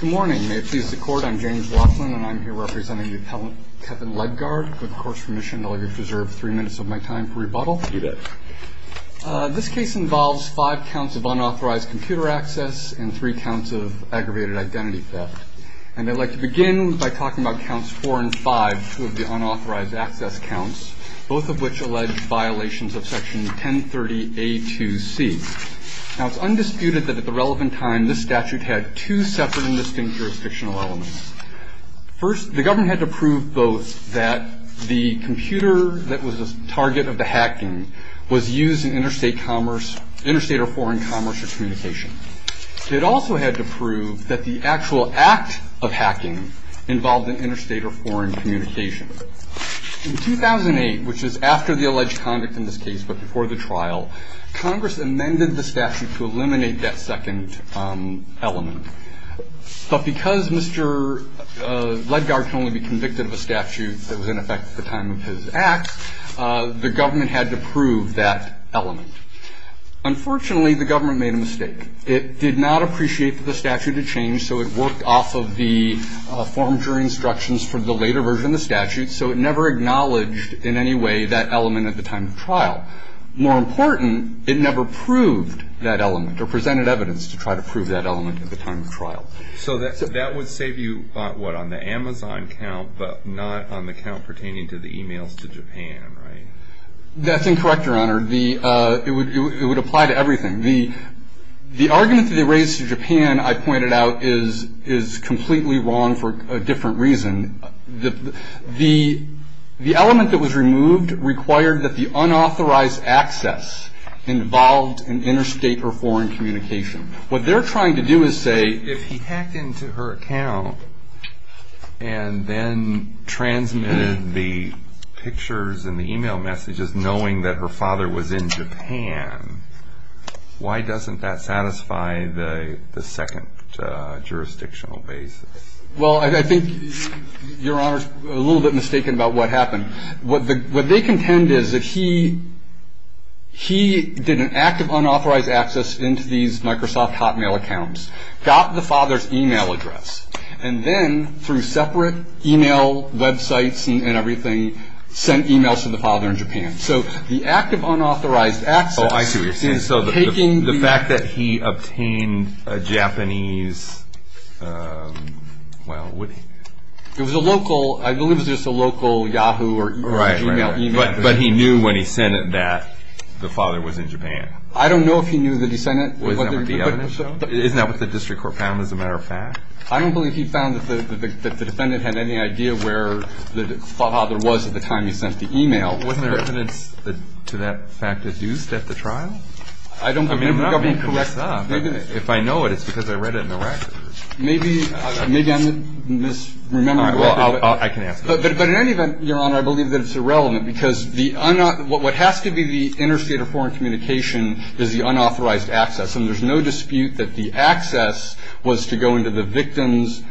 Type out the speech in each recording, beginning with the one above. Good morning. May it please the court, I'm James Laughlin and I'm here representing the appellant Kevin Ledgard. With court's permission, I'll reserve three minutes of my time for rebuttal. This case involves five counts of unauthorized computer access and three counts of aggravated identity theft. And I'd like to begin by talking about counts four and five, two of the unauthorized access counts, both of which allege violations of section 1030A2C. Now it's undisputed that at the time, there were two separate and distinct jurisdictional elements. First, the government had to prove both that the computer that was the target of the hacking was used in interstate commerce, interstate or foreign commerce or communication. It also had to prove that the actual act of hacking involved an interstate or foreign communication. In 2008, which is after the alleged conduct in this case, the government made that second element. But because Mr. Ledgard can only be convicted of a statute that was in effect at the time of his act, the government had to prove that element. Unfortunately, the government made a mistake. It did not appreciate that the statute had changed, so it worked off of the forms or instructions for the later version of the statute, so it never acknowledged in any way that element at the time of trial. More important, it never proved that element or presented evidence to try to prove that element at the time of trial. So that would save you, what, on the Amazon count but not on the count pertaining to the emails to Japan, right? That's incorrect, Your Honor. It would apply to everything. The argument that they raised to Japan, I pointed out, is completely wrong for a different reason. The element that was removed required that the unauthorized access involved an interstate or foreign communication. What they're trying to do is say, if he hacked into her account and then transmitted the pictures and the email messages knowing that her father was in Japan, why doesn't that satisfy the second jurisdictional basis? Well, I think Your Honor's a little bit mistaken about what happened. What they contend is that he did an act of unauthorized access into these Microsoft Hotmail accounts, got the father's email address, and then through separate email websites and everything, sent emails to the father in Japan. So the act of unauthorized access is taking... The fact that he obtained a Japanese... Well, what... It was a local, I believe it was just a local Yahoo or Gmail email. Right, right. But he knew when he sent it that the father was in Japan. I don't know if he knew that he sent it. Isn't that what the district court found as a matter of fact? I don't believe he found that the defendant had any idea where the father was at the time he sent the email. Wasn't there evidence to that fact adduced at the trial? I don't believe... I'm not being coerced up. If I know it, it's because I read it in the record. Maybe I'm misremembering... But in any event, Your Honor, I believe that it's irrelevant because what has to be the interstate or foreign communication is the unauthorized access. And there's no dispute that the access was to go into the victim's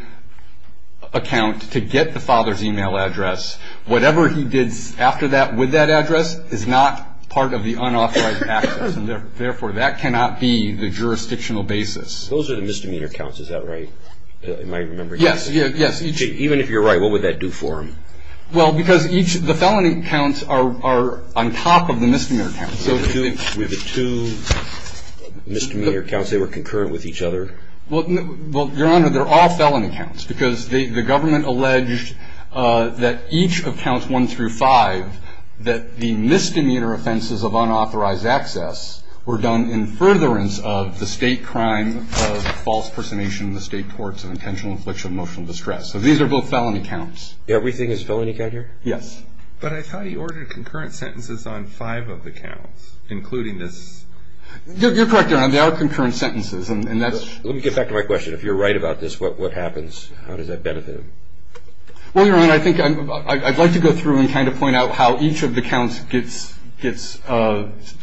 account to get the father's email address. Whatever he did after that with that address is not part of the unauthorized access. And therefore, that cannot be the jurisdictional basis. Those are the misdemeanor counts, is that right? Yes. Even if you're right, what would that do for him? Well, because the felony counts are on top of the misdemeanor counts. With the two misdemeanor counts, they were concurrent with each other? Well, Your Honor, they're all felony counts because the government alleged that each of counts 1 through 5 that the misdemeanor offenses of unauthorized access were done in furtherance of the state crime of false personation in the state courts of intentional infliction of emotional distress. So these are both felony counts. Everything is felony count here? Yes. But I thought he ordered concurrent sentences on five of the counts, including this... You're correct, Your Honor. They are concurrent sentences. Let me get back to my question. If you're right about this, what happens? How does that benefit him? Well, Your Honor, I'd like to go through and kind of point out how each of the counts gets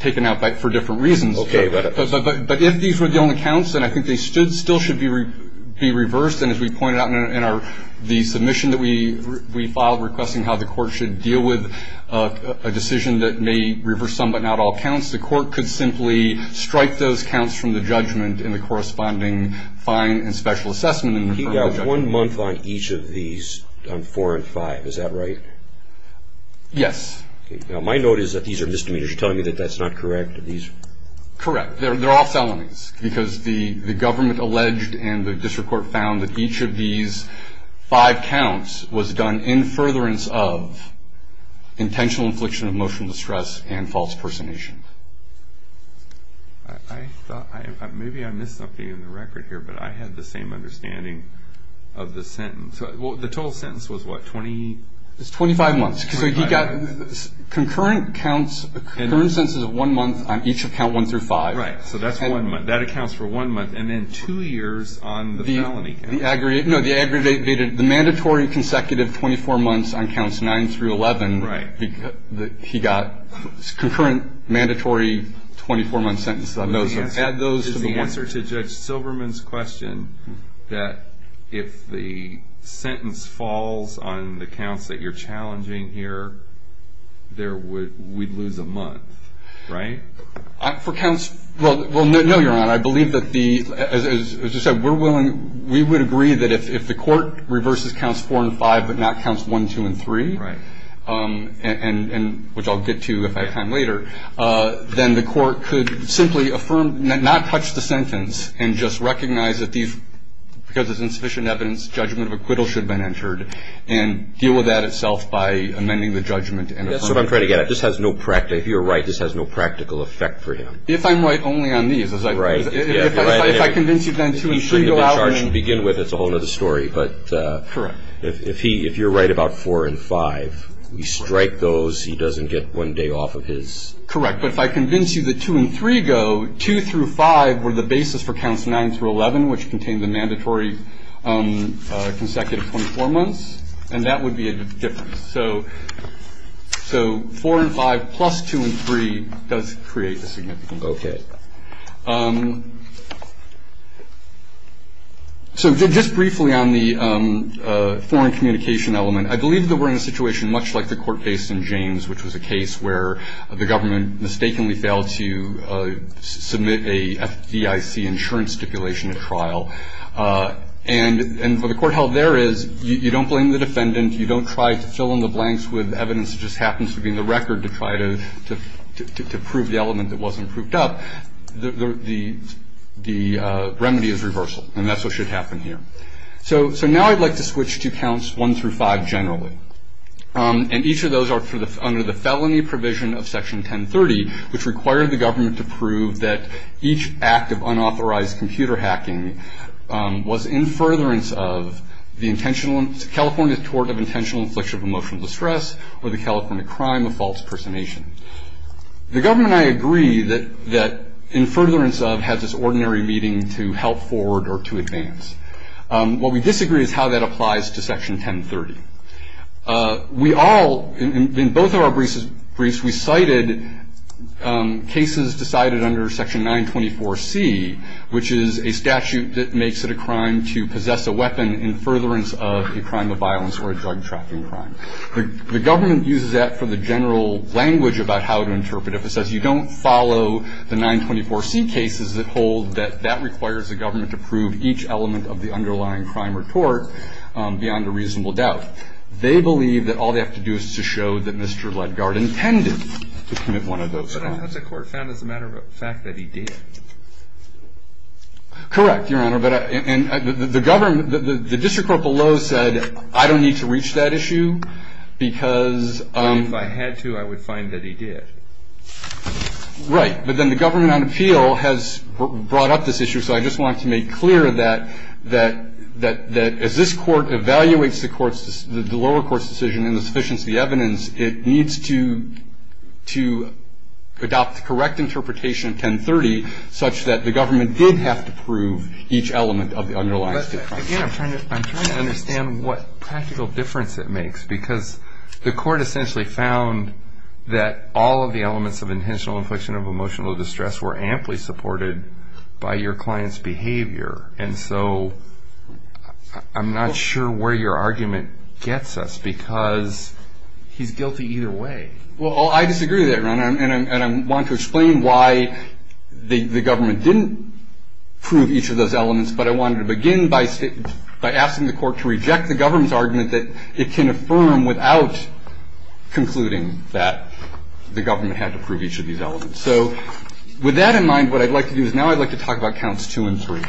taken out for different reasons. Okay. But if these were the only counts, then I think they still should be reversed. And as we pointed out in the submission that we filed requesting how the court should deal with a decision that may reverse some but not all counts, the court could simply strike those counts from the judgment in the corresponding fine and special assessment. He got one month on each of these, on 4 and 5. Is that right? Yes. Now, my note is that these are misdemeanors. You're telling me that that's not correct? Correct. They're all felonies because the government alleged and the district court found that each of these five counts was done in furtherance of intentional infliction of emotional distress and false personation. Maybe I missed something in the record here, but I had the same understanding of the sentence. Well, the total sentence was what, 20? It's 25 months. So he got concurrent counts, concurrent sentences of one month on each of count 1 through 5. Right. So that's one month. That accounts for one month. And then two years on the felony. No, the aggravated, the mandatory consecutive 24 months on counts 9 through 11, he got concurrent mandatory 24-month sentences. Add those to the one- Is the answer to Judge Silberman's question that if the sentence falls on the counts that you're challenging here, we'd lose a month, right? Well, no, Your Honor. I believe that as you said, we would agree that if the court reverses counts 4 and 5 but not counts 1, 2, and 3, which I'll get to if I have time later, then the court could simply not touch the sentence and just recognize that because it's insufficient evidence, judgment of acquittal should have been entered and deal with that itself by amending the judgment. That's what I'm trying to get at. If you're right, this has no practical effect for him. If I'm right only on these. If I convince you then 2 and 3 go out- He shouldn't have been charged to begin with. That's a whole other story. If you're right about 4 and 5, we strike those. He doesn't get one day off of his- Correct. But if I convince you that 2 and 3 go, 2 through 5 were the basis for counts 9 through 11, which contained the mandatory consecutive 24 months, and that would be a difference. So 4 and 5 plus 2 and 3 does create a significant gap. So just briefly on the foreign communication element, I believe that we're in a situation much like the court case in James, which was a case where the government mistakenly failed to submit a FDIC insurance stipulation at trial. And what the court held there is you don't blame the defendant. You don't try to fill in the blanks with evidence that just happens to be in the record to try to prove the element that wasn't proved up. The remedy is reversal, and that's what should happen here. So now I'd like to switch to counts 1 through 5 generally. And each of those are under the felony provision of Section 1030, which required the government to prove that each act of enforcement was in furtherance of the California Tort of Intentional Infliction of Emotional Distress or the California Crime of False Personation. The government and I agree that in furtherance of has its ordinary meaning to help forward or to advance. What we disagree is how that applies to Section 1030. We all, in both of our briefs, we cited cases decided under Section 924C, which is a statute that makes it a crime to possess a weapon in furtherance of a crime of violence or a drug trafficking crime. The government uses that for the general language about how to interpret it. If it says you don't follow the 924C cases, it holds that that requires the government to prove each element of the underlying crime or tort beyond a reasonable doubt. They believe that all they have to do is to show that Mr. Ledgaard intended to commit one of those crimes. But the court found as a matter of fact that he did. Correct, Your Honor, but the district court below said I don't need to reach that issue because If I had to, I would find that he did. Right, but then the government on appeal has brought up this issue, so I just want to make clear that as this court evaluates the lower court's decision and the sufficiency of the evidence, it needs to adopt the correct interpretation of 1030 such that the government did have to prove each element of the underlying crime. I'm trying to understand what practical difference it makes because the court essentially found that all of the elements of intentional infliction of emotional distress were amply supported by your client's behavior, and so I'm not sure where your argument gets us because he's guilty either way. Well, I disagree with that, Your Honor, and I want to explain why the government didn't prove each of those elements, but I wanted to begin by asking the court to reject the government's argument that it can affirm without concluding that the government had to prove each of these elements. So with that in mind, what I'd like to do is now I'd like to talk about counts two and three.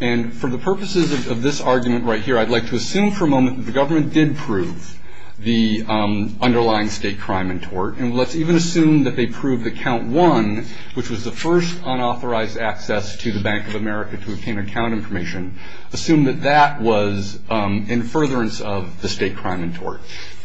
And for the purposes of this argument right here, I'd like to assume for a moment that the government did prove the crime in tort, and let's even assume that they proved that count one, which was the first unauthorized access to the Bank of America to obtain account information, assume that that was in furtherance of the state crime in tort.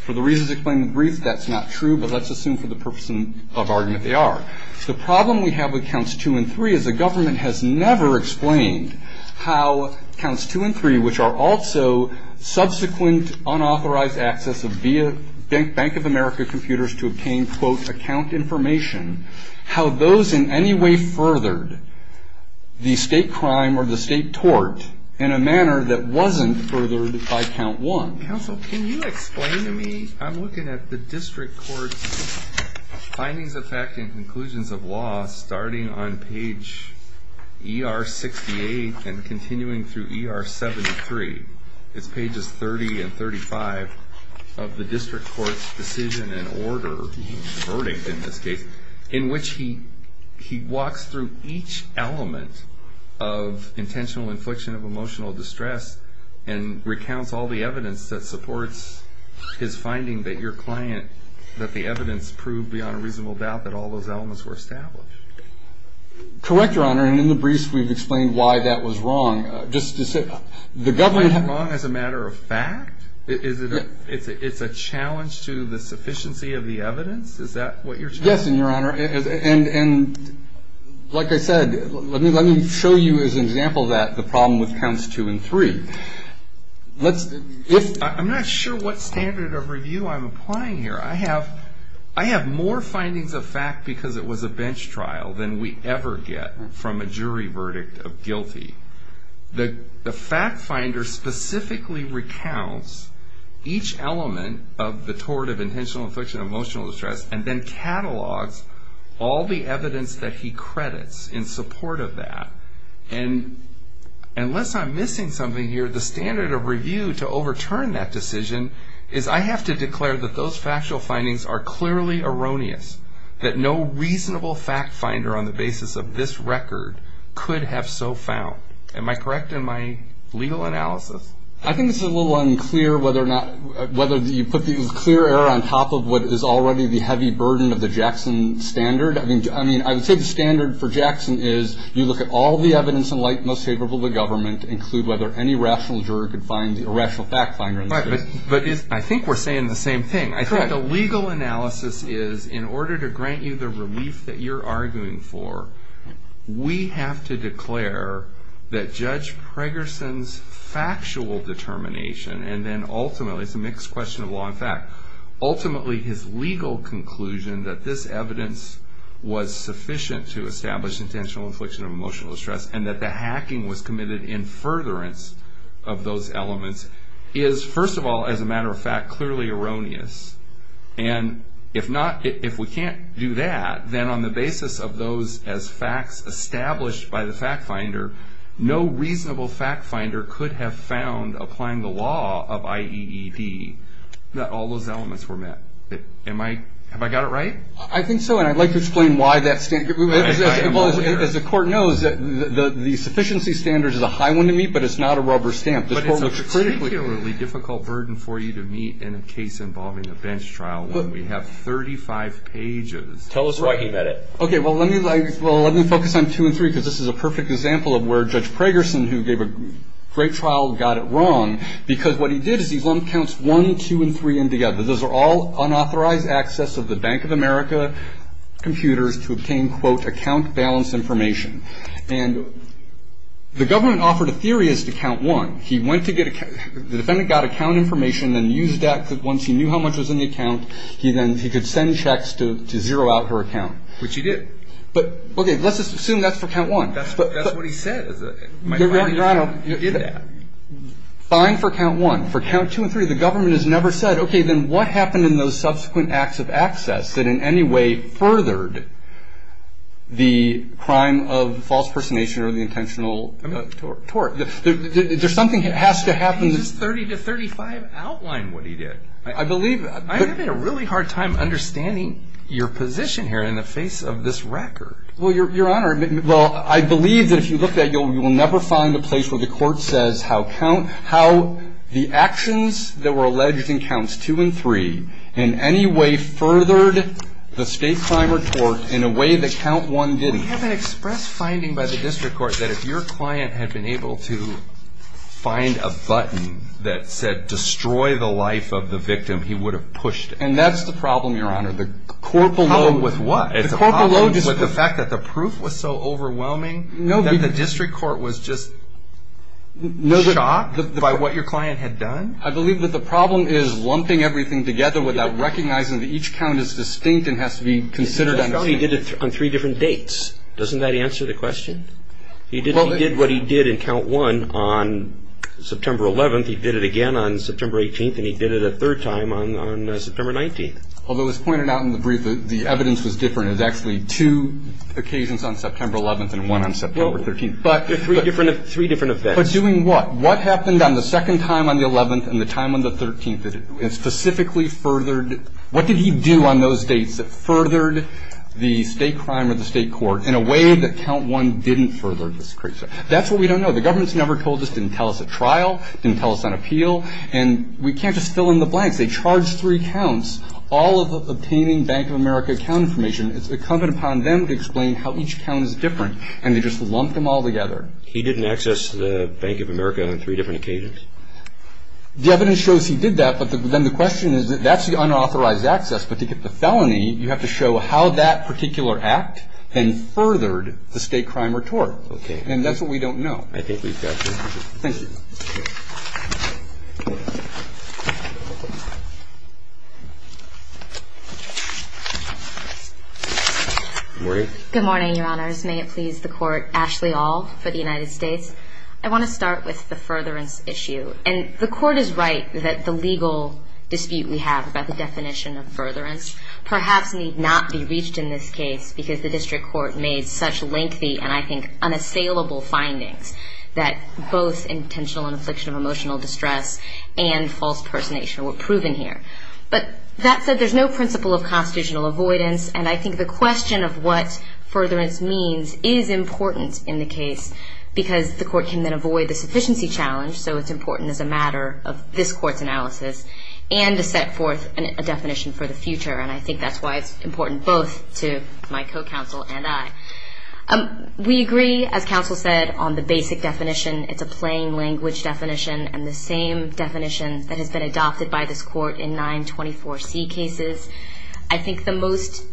For the reasons explained in brief, that's not true, but let's assume for the purpose of argument they are. The problem we have with counts two and three is the government has never explained how counts two and three, which are also subsequent unauthorized access of Bank of America computers to obtain quote account information, how those in any way furthered the state crime or the state tort in a manner that wasn't furthered by count one. Counsel, can you explain to me? I'm looking at the district court's findings of fact and conclusions of law starting on page ER 68 and continuing through ER 73. It's pages 30 and 35 of the district court's decision and order verdict in this case, in which he walks through each element of intentional infliction of emotional distress and recounts all the evidence that supports his finding that your client, that the evidence proved beyond reasonable doubt that all those elements were established. Correct, Your Honor, and in the briefs we've explained why that was wrong. Is finding wrong as a matter of fact? It's a challenge to the sufficiency of the evidence? Is that what you're challenging? Yes, and Your Honor, and like I said, let me show you as an example that the problem with counts two and three. I'm not sure what standard of review I'm applying here. I have more findings of fact because it was a bench trial than we ever get from a jury verdict of guilty. The fact finder specifically recounts each element of the tort of intentional infliction of emotional distress and then catalogs all the evidence that he credits in support of that and unless I'm missing something here, the standard of review to overturn that decision is I have to declare that those factual findings are clearly erroneous, that no reasonable fact finder on the court would have so found. Am I correct in my legal analysis? I think this is a little unclear whether you put the clear error on top of what is already the heavy burden of the Jackson standard. I would say the standard for Jackson is you look at all the evidence in light most favorable to government, include whether any rational jury could find the irrational fact finder. I think we're saying the same thing. I think the legal analysis is in order to grant you the relief that you're arguing for, we have to declare that Judge Pregerson's factual determination and then ultimately it's a mixed question of law and fact, ultimately his legal conclusion that this evidence was sufficient to establish intentional infliction of emotional distress and that the hacking was committed in furtherance of those elements is first of all as a matter of fact clearly erroneous and if we can't do that then on the basis of those as facts established by the fact finder no reasonable fact finder could have found applying the law of IEED that all those elements were met. Am I, have I got it right? I think so and I'd like to explain why that standard as the court knows that the sufficiency standard is a high one to meet but it's not a rubber stamp. But it's a particularly difficult burden for you to meet in a case involving a bench trial when we have 35 pages. Tell us why he met it. Okay well let me focus on two and three because this is a perfect example of where Judge Pregerson who gave a great trial got it wrong because what he did is he lumped counts one two and three in together. Those are all unauthorized access of the Bank of America computers to obtain quote account balance information and the government offered a theory as to count one. He went to get, the defendant got account information and used that once he knew how much was in the account he then, he could send checks to zero out her account. Which he did. But okay let's just assume that's for count one. That's what he said. Your Honor, fine for count one. For count two and three the government has never said okay then what happened in those subsequent acts of access that in any way furthered the crime of false personation or the intentional tort. There's something that has to happen. Does 30 to 35 outline what he did? I believe. I'm having a really hard time understanding your position here in the face of this record. Well Your Honor well I believe that if you look at it you will never find a place where the court says how count, how the actions that were alleged in counts two and three in any way furthered the state crime or tort in a way that count one didn't. We have an express finding by the district court that if your client had been able to find a way to destroy the life of the victim he would have pushed it. And that's the problem Your Honor. The problem with what? The problem with the fact that the proof was so overwhelming that the district court was just shocked by what your client had done? I believe that the problem is lumping everything together without recognizing that each count is distinct and has to be considered on three different dates. Doesn't that answer the question? He did what he did in count one on September 11th. He did it again on September 18th. And he did it a third time on September 19th. Although as pointed out in the brief the evidence was different. It was actually two occasions on September 11th and one on September 13th. Three different events. But doing what? What happened on the second time on the 11th and the time on the 13th that it specifically furthered? What did he do on those dates that furthered the state crime or the state court in a way that count one didn't further? That's what we don't know. The government has never told us. Didn't tell us at trial. Didn't tell us on appeal. And we can't just fill in the blanks. They charged three counts all of obtaining Bank of America account information. It's incumbent upon them to explain how each count is different. And they just lumped them all together. He didn't access the Bank of America on three different occasions? The evidence shows he did that. But then the question is that that's the unauthorized access. But to get the felony you have to show how that particular act then furthered the state crime or tort. And that's what we don't know. Thank you. Good morning, Your Honors. May it please the Court, Ashley Auld for the United States. I want to start with the furtherance issue. And the Court is right that the legal dispute we have about the definition of furtherance perhaps need not be reached in this case because the district court made such lengthy and I think unassailable findings that both intentional and affliction of emotional distress and false personation were proven here. But that said, there's no principle of constitutional avoidance and I think the question of what furtherance means is important in the case because the Court can then avoid the sufficiency challenge. So it's important as a matter of this Court's analysis and to set forth a definition for the future. And I think that's why it's important both to my co-counsel and I. We agree, as counsel said, on the basic definition. It's a plain language definition and the same definition that has been adopted by this Court in 924C cases. I think the most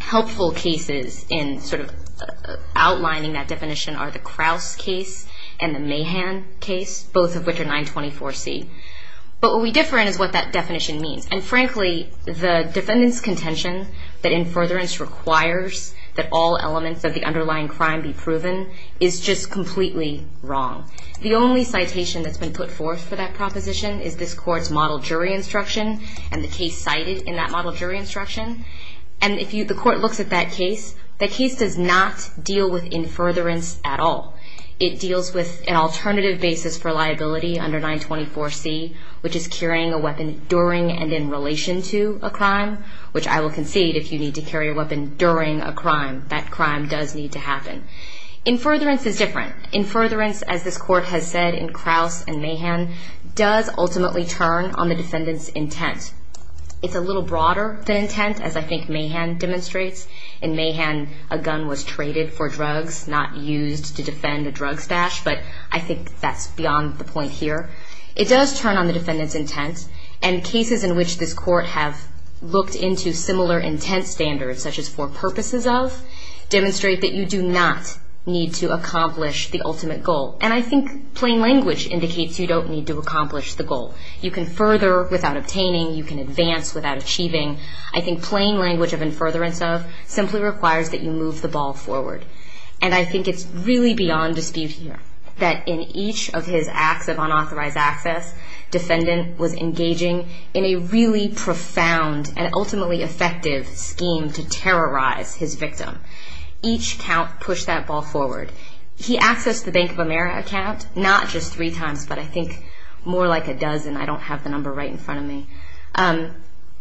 helpful cases in sort of outlining that definition are the Krause case and the Mahan case, both of which are 924C. But what we differ in is what that definition means. And frankly, the defendant's claim that it requires that all elements of the underlying crime be proven is just completely wrong. The only citation that's been put forth for that proposition is this Court's model jury instruction and the case cited in that model jury instruction. And if the Court looks at that case, that case does not deal with in furtherance at all. It deals with an alternative basis for liability under 924C, which is carrying a weapon during and in relation to a crime, which I will concede if you need to carry a weapon during a crime, that crime does need to happen. In furtherance is different. In furtherance, as this Court has said in Krause and Mahan, does ultimately turn on the defendant's intent. It's a little broader than intent, as I think Mahan demonstrates. In Mahan, a gun was traded for drugs, not used to defend a drug stash, but I think that's beyond the point here. It does turn on the defendant's intent, and cases in which this Court have looked into similar intent standards, such as for purposes of, demonstrate that you do not need to accomplish the ultimate goal. And I think plain language indicates you don't need to accomplish the goal. You can further without obtaining, you can advance without achieving. I think plain language of in furtherance of simply requires that you move the ball forward. And I think it's really beyond dispute here, that in each of his acts of unauthorized access, defendant was engaging in a really profound and ultimately effective scheme to terrorize his victim. Each count pushed that ball forward. He accessed the Bank of America account, not just three times, but I think more like a dozen. I don't have the number right in front of me.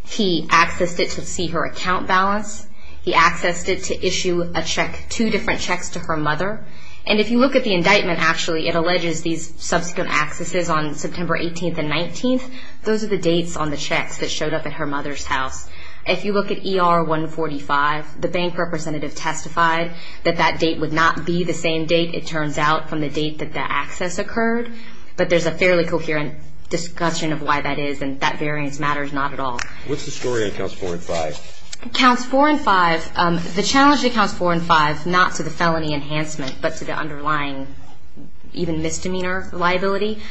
He accessed it to see her account balance. He accessed it to issue a check, two different checks to her mother. And if you look at the indictment, actually, it alleges these 13th and 19th, those are the dates on the checks that showed up at her mother's house. If you look at ER 145, the bank representative testified that that date would not be the same date, it turns out, from the date that the access occurred. But there's a fairly coherent discussion of why that is, and that variance matters not at all. What's the story on Counts 4 and 5? Counts 4 and 5, the challenge to Counts 4 and 5, not to the felony enhancement, but to the underlying, even misdemeanor liability,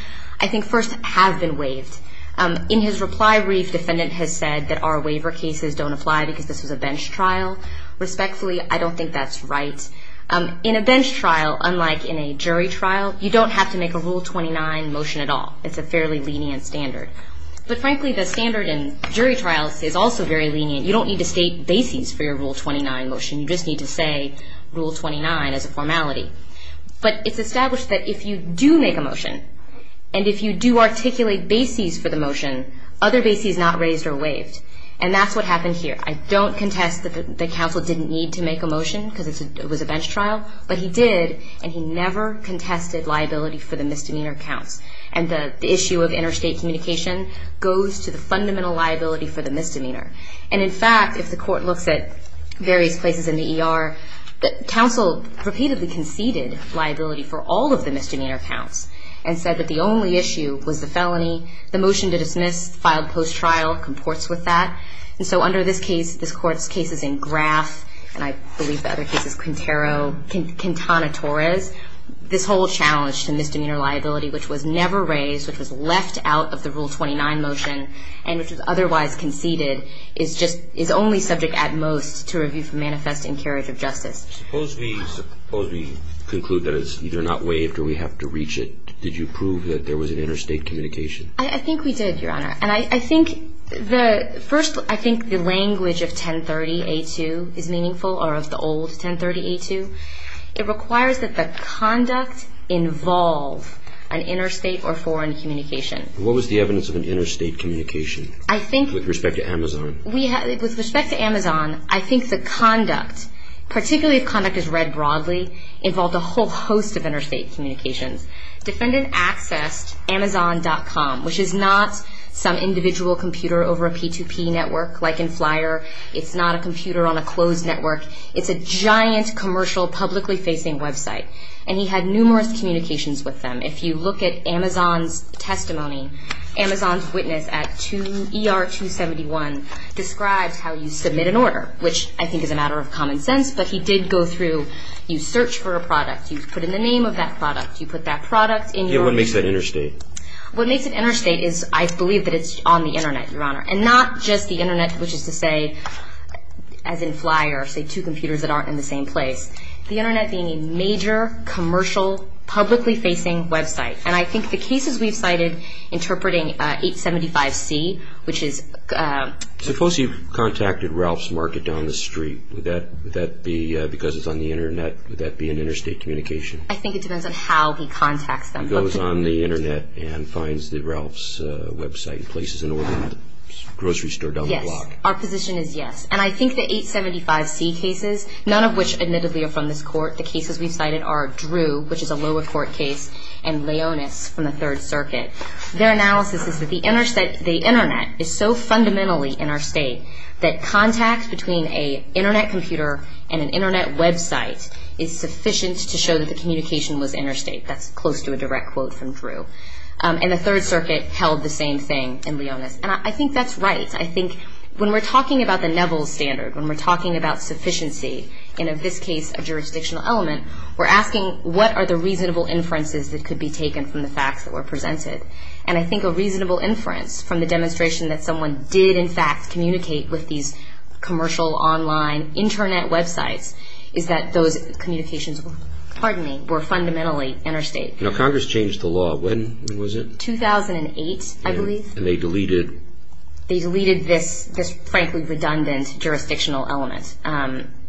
I think first have been waived. In his reply brief, defendant has said that our waiver cases don't apply because this was a bench trial. Respectfully, I don't think that's right. In a bench trial, unlike in a jury trial, you don't have to make a Rule 29 motion at all. It's a fairly lenient standard. But frankly, the standard in jury trials is also very lenient. You don't need to state bases for your Rule 29 motion. You just need to say Rule 29 as a formality. But it's established that if you do make a motion, and if you do articulate bases for the motion, other bases not raised or waived. And that's what happened here. I don't contest that the counsel didn't need to make a motion because it was a bench trial, but he did, and he never contested liability for the misdemeanor counts. And the issue of interstate communication goes to the fundamental liability for the misdemeanor. And in fact, if the court looks at various places in the ER, counsel repeatedly conceded liability for all of the misdemeanor counts, and said that the only issue was the felony. The motion to dismiss, filed post-trial, comports with that. And so under this case, this court's case is in Graff, and I believe the other case is Quintero, Quintana Torres. This whole challenge to misdemeanor liability, which was never raised, which was left out of the Rule 29 motion, and which was otherwise conceded, is only subject at most to review for manifest and carriage of justice. Suppose we conclude that it's either not waived or we have to reach it. Did you prove that there was an interstate communication? I think we did, Your Honor. And I think the first, I think the language of 1030A2 is meaningful, or of the old 1030A2. It requires that the conduct involve an interstate or foreign communication. What was the evidence of an interstate communication with respect to Amazon? With respect to Amazon, I think the conduct, particularly if conduct is read broadly, involved a whole host of interstate communications. Defendant accessed Amazon.com, which is not some individual computer over a P2P network, like in Flyer. It's not a computer on a closed network. It's a giant commercial publicly facing website. And he had numerous communications with them. If you look at Amazon's testimony, Amazon's witness at ER271 described how you submit an order, which I think is a matter of common sense, but he did go through, you search for a product, you put in the name of that product, you put that product in your... Yeah, what makes that interstate? What makes it interstate is, I believe that it's on the Internet, Your Honor. And not just the Internet, which is to say, as in Flyer, say two computers that aren't in the same place. The Internet being a major commercial publicly facing website. And I think the cases we've cited interpreting 875C, which is... Suppose you've contacted Ralph's Market down the street. Would that be because it's on the Internet? Would that be an interstate communication? I think it depends on how he contacts them. He goes on the Internet and finds the Ralph's website and places an order at the grocery store down the block. Yes. Our position is yes. And I think the 875C cases, none of which admittedly are from this court, the cases we've cited are Drew, which is a lower court case, and their analysis is that the Internet is so fundamentally interstate that contact between an Internet computer and an Internet website is sufficient to show that the communication was interstate. That's close to a direct quote from Drew. And the Third Circuit held the same thing in Leonis. And I think that's right. I think when we're talking about the Neville Standard, when we're talking about sufficiency, and in this case a jurisdictional element, we're asking what are the reasonable inferences that could be taken from the facts that were presented. And I think a reasonable inference from the demonstration that someone did in fact communicate with these commercial online Internet websites is that those communications were fundamentally interstate. Congress changed the law. When was it? 2008, I believe. And they deleted this frankly redundant jurisdictional element.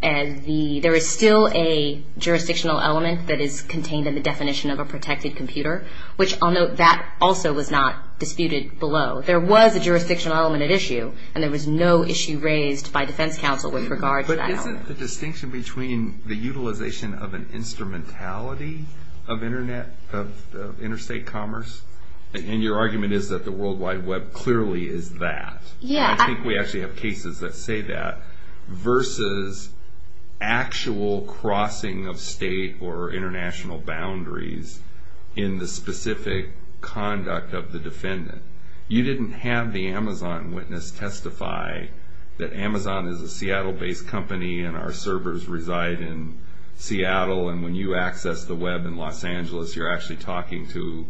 There is still a jurisdictional element that is an Internet computer, which I'll note that also was not disputed below. There was a jurisdictional element at issue, and there was no issue raised by defense counsel with regard to that element. But isn't the distinction between the utilization of an instrumentality of Internet, of interstate commerce, and your argument is that the World Wide Web clearly is that, and I think we actually have cases that say that, versus actual crossing of state or international boundaries in the specific conduct of the defendant. You didn't have the Amazon witness testify that Amazon is a Seattle-based company and our servers reside in Seattle, and when you access the Web in Los Angeles, you're actually talking to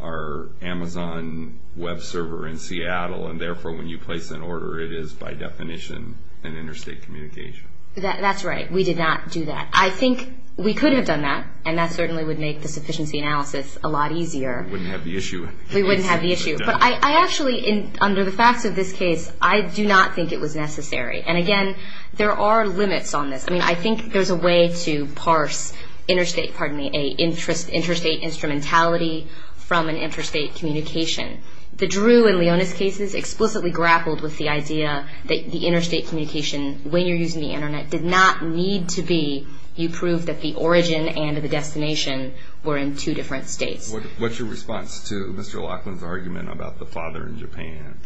our Amazon Web server in Seattle, and therefore when you place an order, it is by definition an interstate communication. That's right. We did not do that. I think we could have done that, and that certainly would make the sufficiency analysis a lot easier. We wouldn't have the issue. We wouldn't have the issue. But I actually, under the facts of this case, I do not think it was necessary. And again, there are limits on this. I mean, I think there's a way to parse interstate instrumentality from an interstate communication. The Drew and Leonis cases explicitly grappled with the idea that the interstate communication, when you're using the Internet, did not need to be, you proved that the origin and the destination were in two different states. What's your response to Mr. Laughlin's argument about the father in Japan?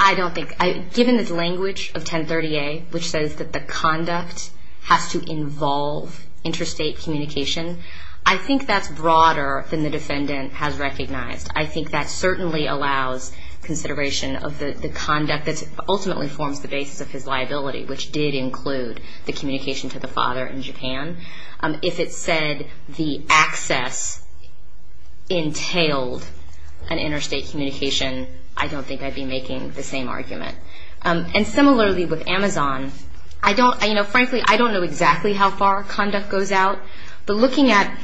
I don't think, given the language of 1030A, which says that the conduct has to involve interstate communication, I think that's broader than the defendant has recognized. I think that certainly allows consideration of the conduct that ultimately forms the basis of his liability, which did include the communication to the father in Japan. If it said the access entailed an interstate communication, I don't think I'd be making the same argument. And similarly with Amazon, frankly, I don't know exactly how far conduct goes out, but looking at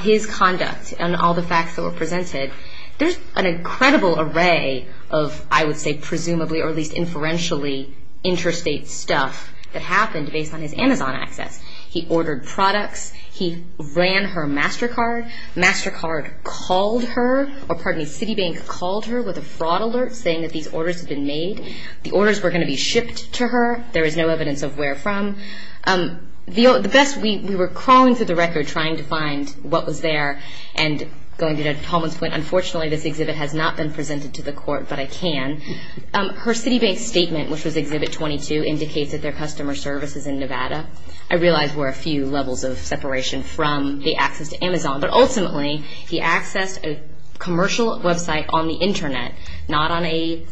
his conduct and all the facts that were presented, there's an incredible array of, I would say, presumably or at least inferentially interstate stuff that happened based on his Amazon access. He ordered products. He ran her MasterCard. MasterCard called her, or pardon me, Citibank called her with a fraud alert saying that these orders had been made. The orders were going to be shipped to her. There is no evidence of where from. The best, we were crawling through the record trying to find what was there and going to Paulman's point, unfortunately this exhibit has not been presented to the court, but I can. Her Citibank statement, which was exhibit 22, indicates that their customer service is in Nevada. I realize we're a few levels of separation from the access to Amazon, but ultimately he accessed a commercial website on the Internet, not on a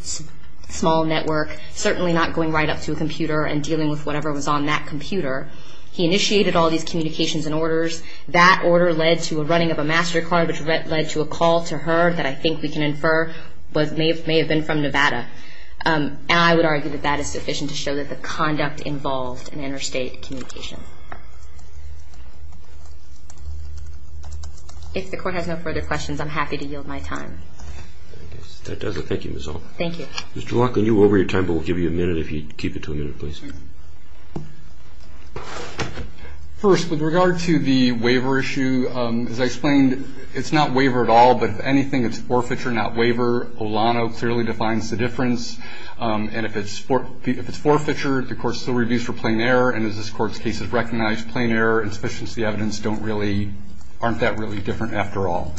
small network, certainly not going right up to a computer and dealing with whatever was on that computer. He initiated all these communications and orders. That order led to a running of a MasterCard, which led to a call to her that I think we can infer may have been from Nevada. I would argue that that is sufficient to show that the conduct involved an interstate communication. If the court has no further questions, I'm happy to yield my time. Thank you. First, with regard to the waiver issue, as I explained, it's not waiver at all, but if anything, it's forfeiture, not waiver. Olano clearly defines the difference. If it's forfeiture, the court still reviews for plain error, and as this court's case has recognized, plain error and sufficiency evidence aren't that really different after all.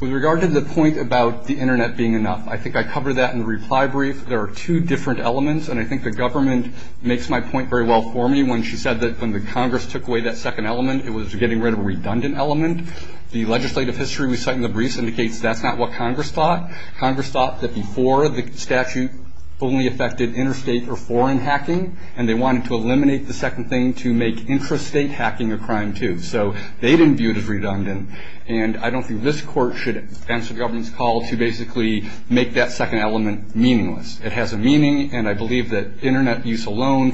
With regard to the point about the Internet being enough, I think I covered that in the reply brief. There are two different elements, and I think the government makes my point very well for me when she said that when the Congress took away that second element, it was getting rid of a redundant element. The legislative history we cite in the brief indicates that's not what Congress thought. Congress thought that before the statute only affected interstate or foreign hacking, and they wanted to eliminate the second thing to make intrastate hacking a crime, too. So they didn't view it as redundant, and I don't think this court should answer the government's call to basically make that second element meaningless. It has a meaning, and I believe that Internet use And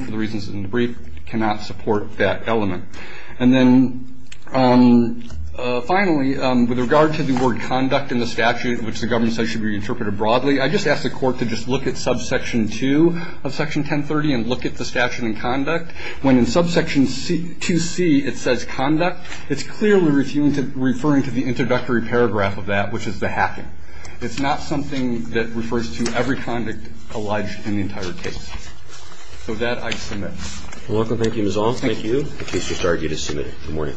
then finally, with regard to the word conduct in the statute, which the government says should be reinterpreted broadly, I just ask the court to just look at subsection 2 of Section 1030 and look at the statute and conduct. When in subsection 2C it says conduct, it's clearly referring to the introductory paragraph of that, which is the hacking. It's not something that refers to every conduct alleged in the entire case. So that I submit. You're welcome. Thank you, Ms. Ault. Thank you. The case has started. You're to submit it. Good morning.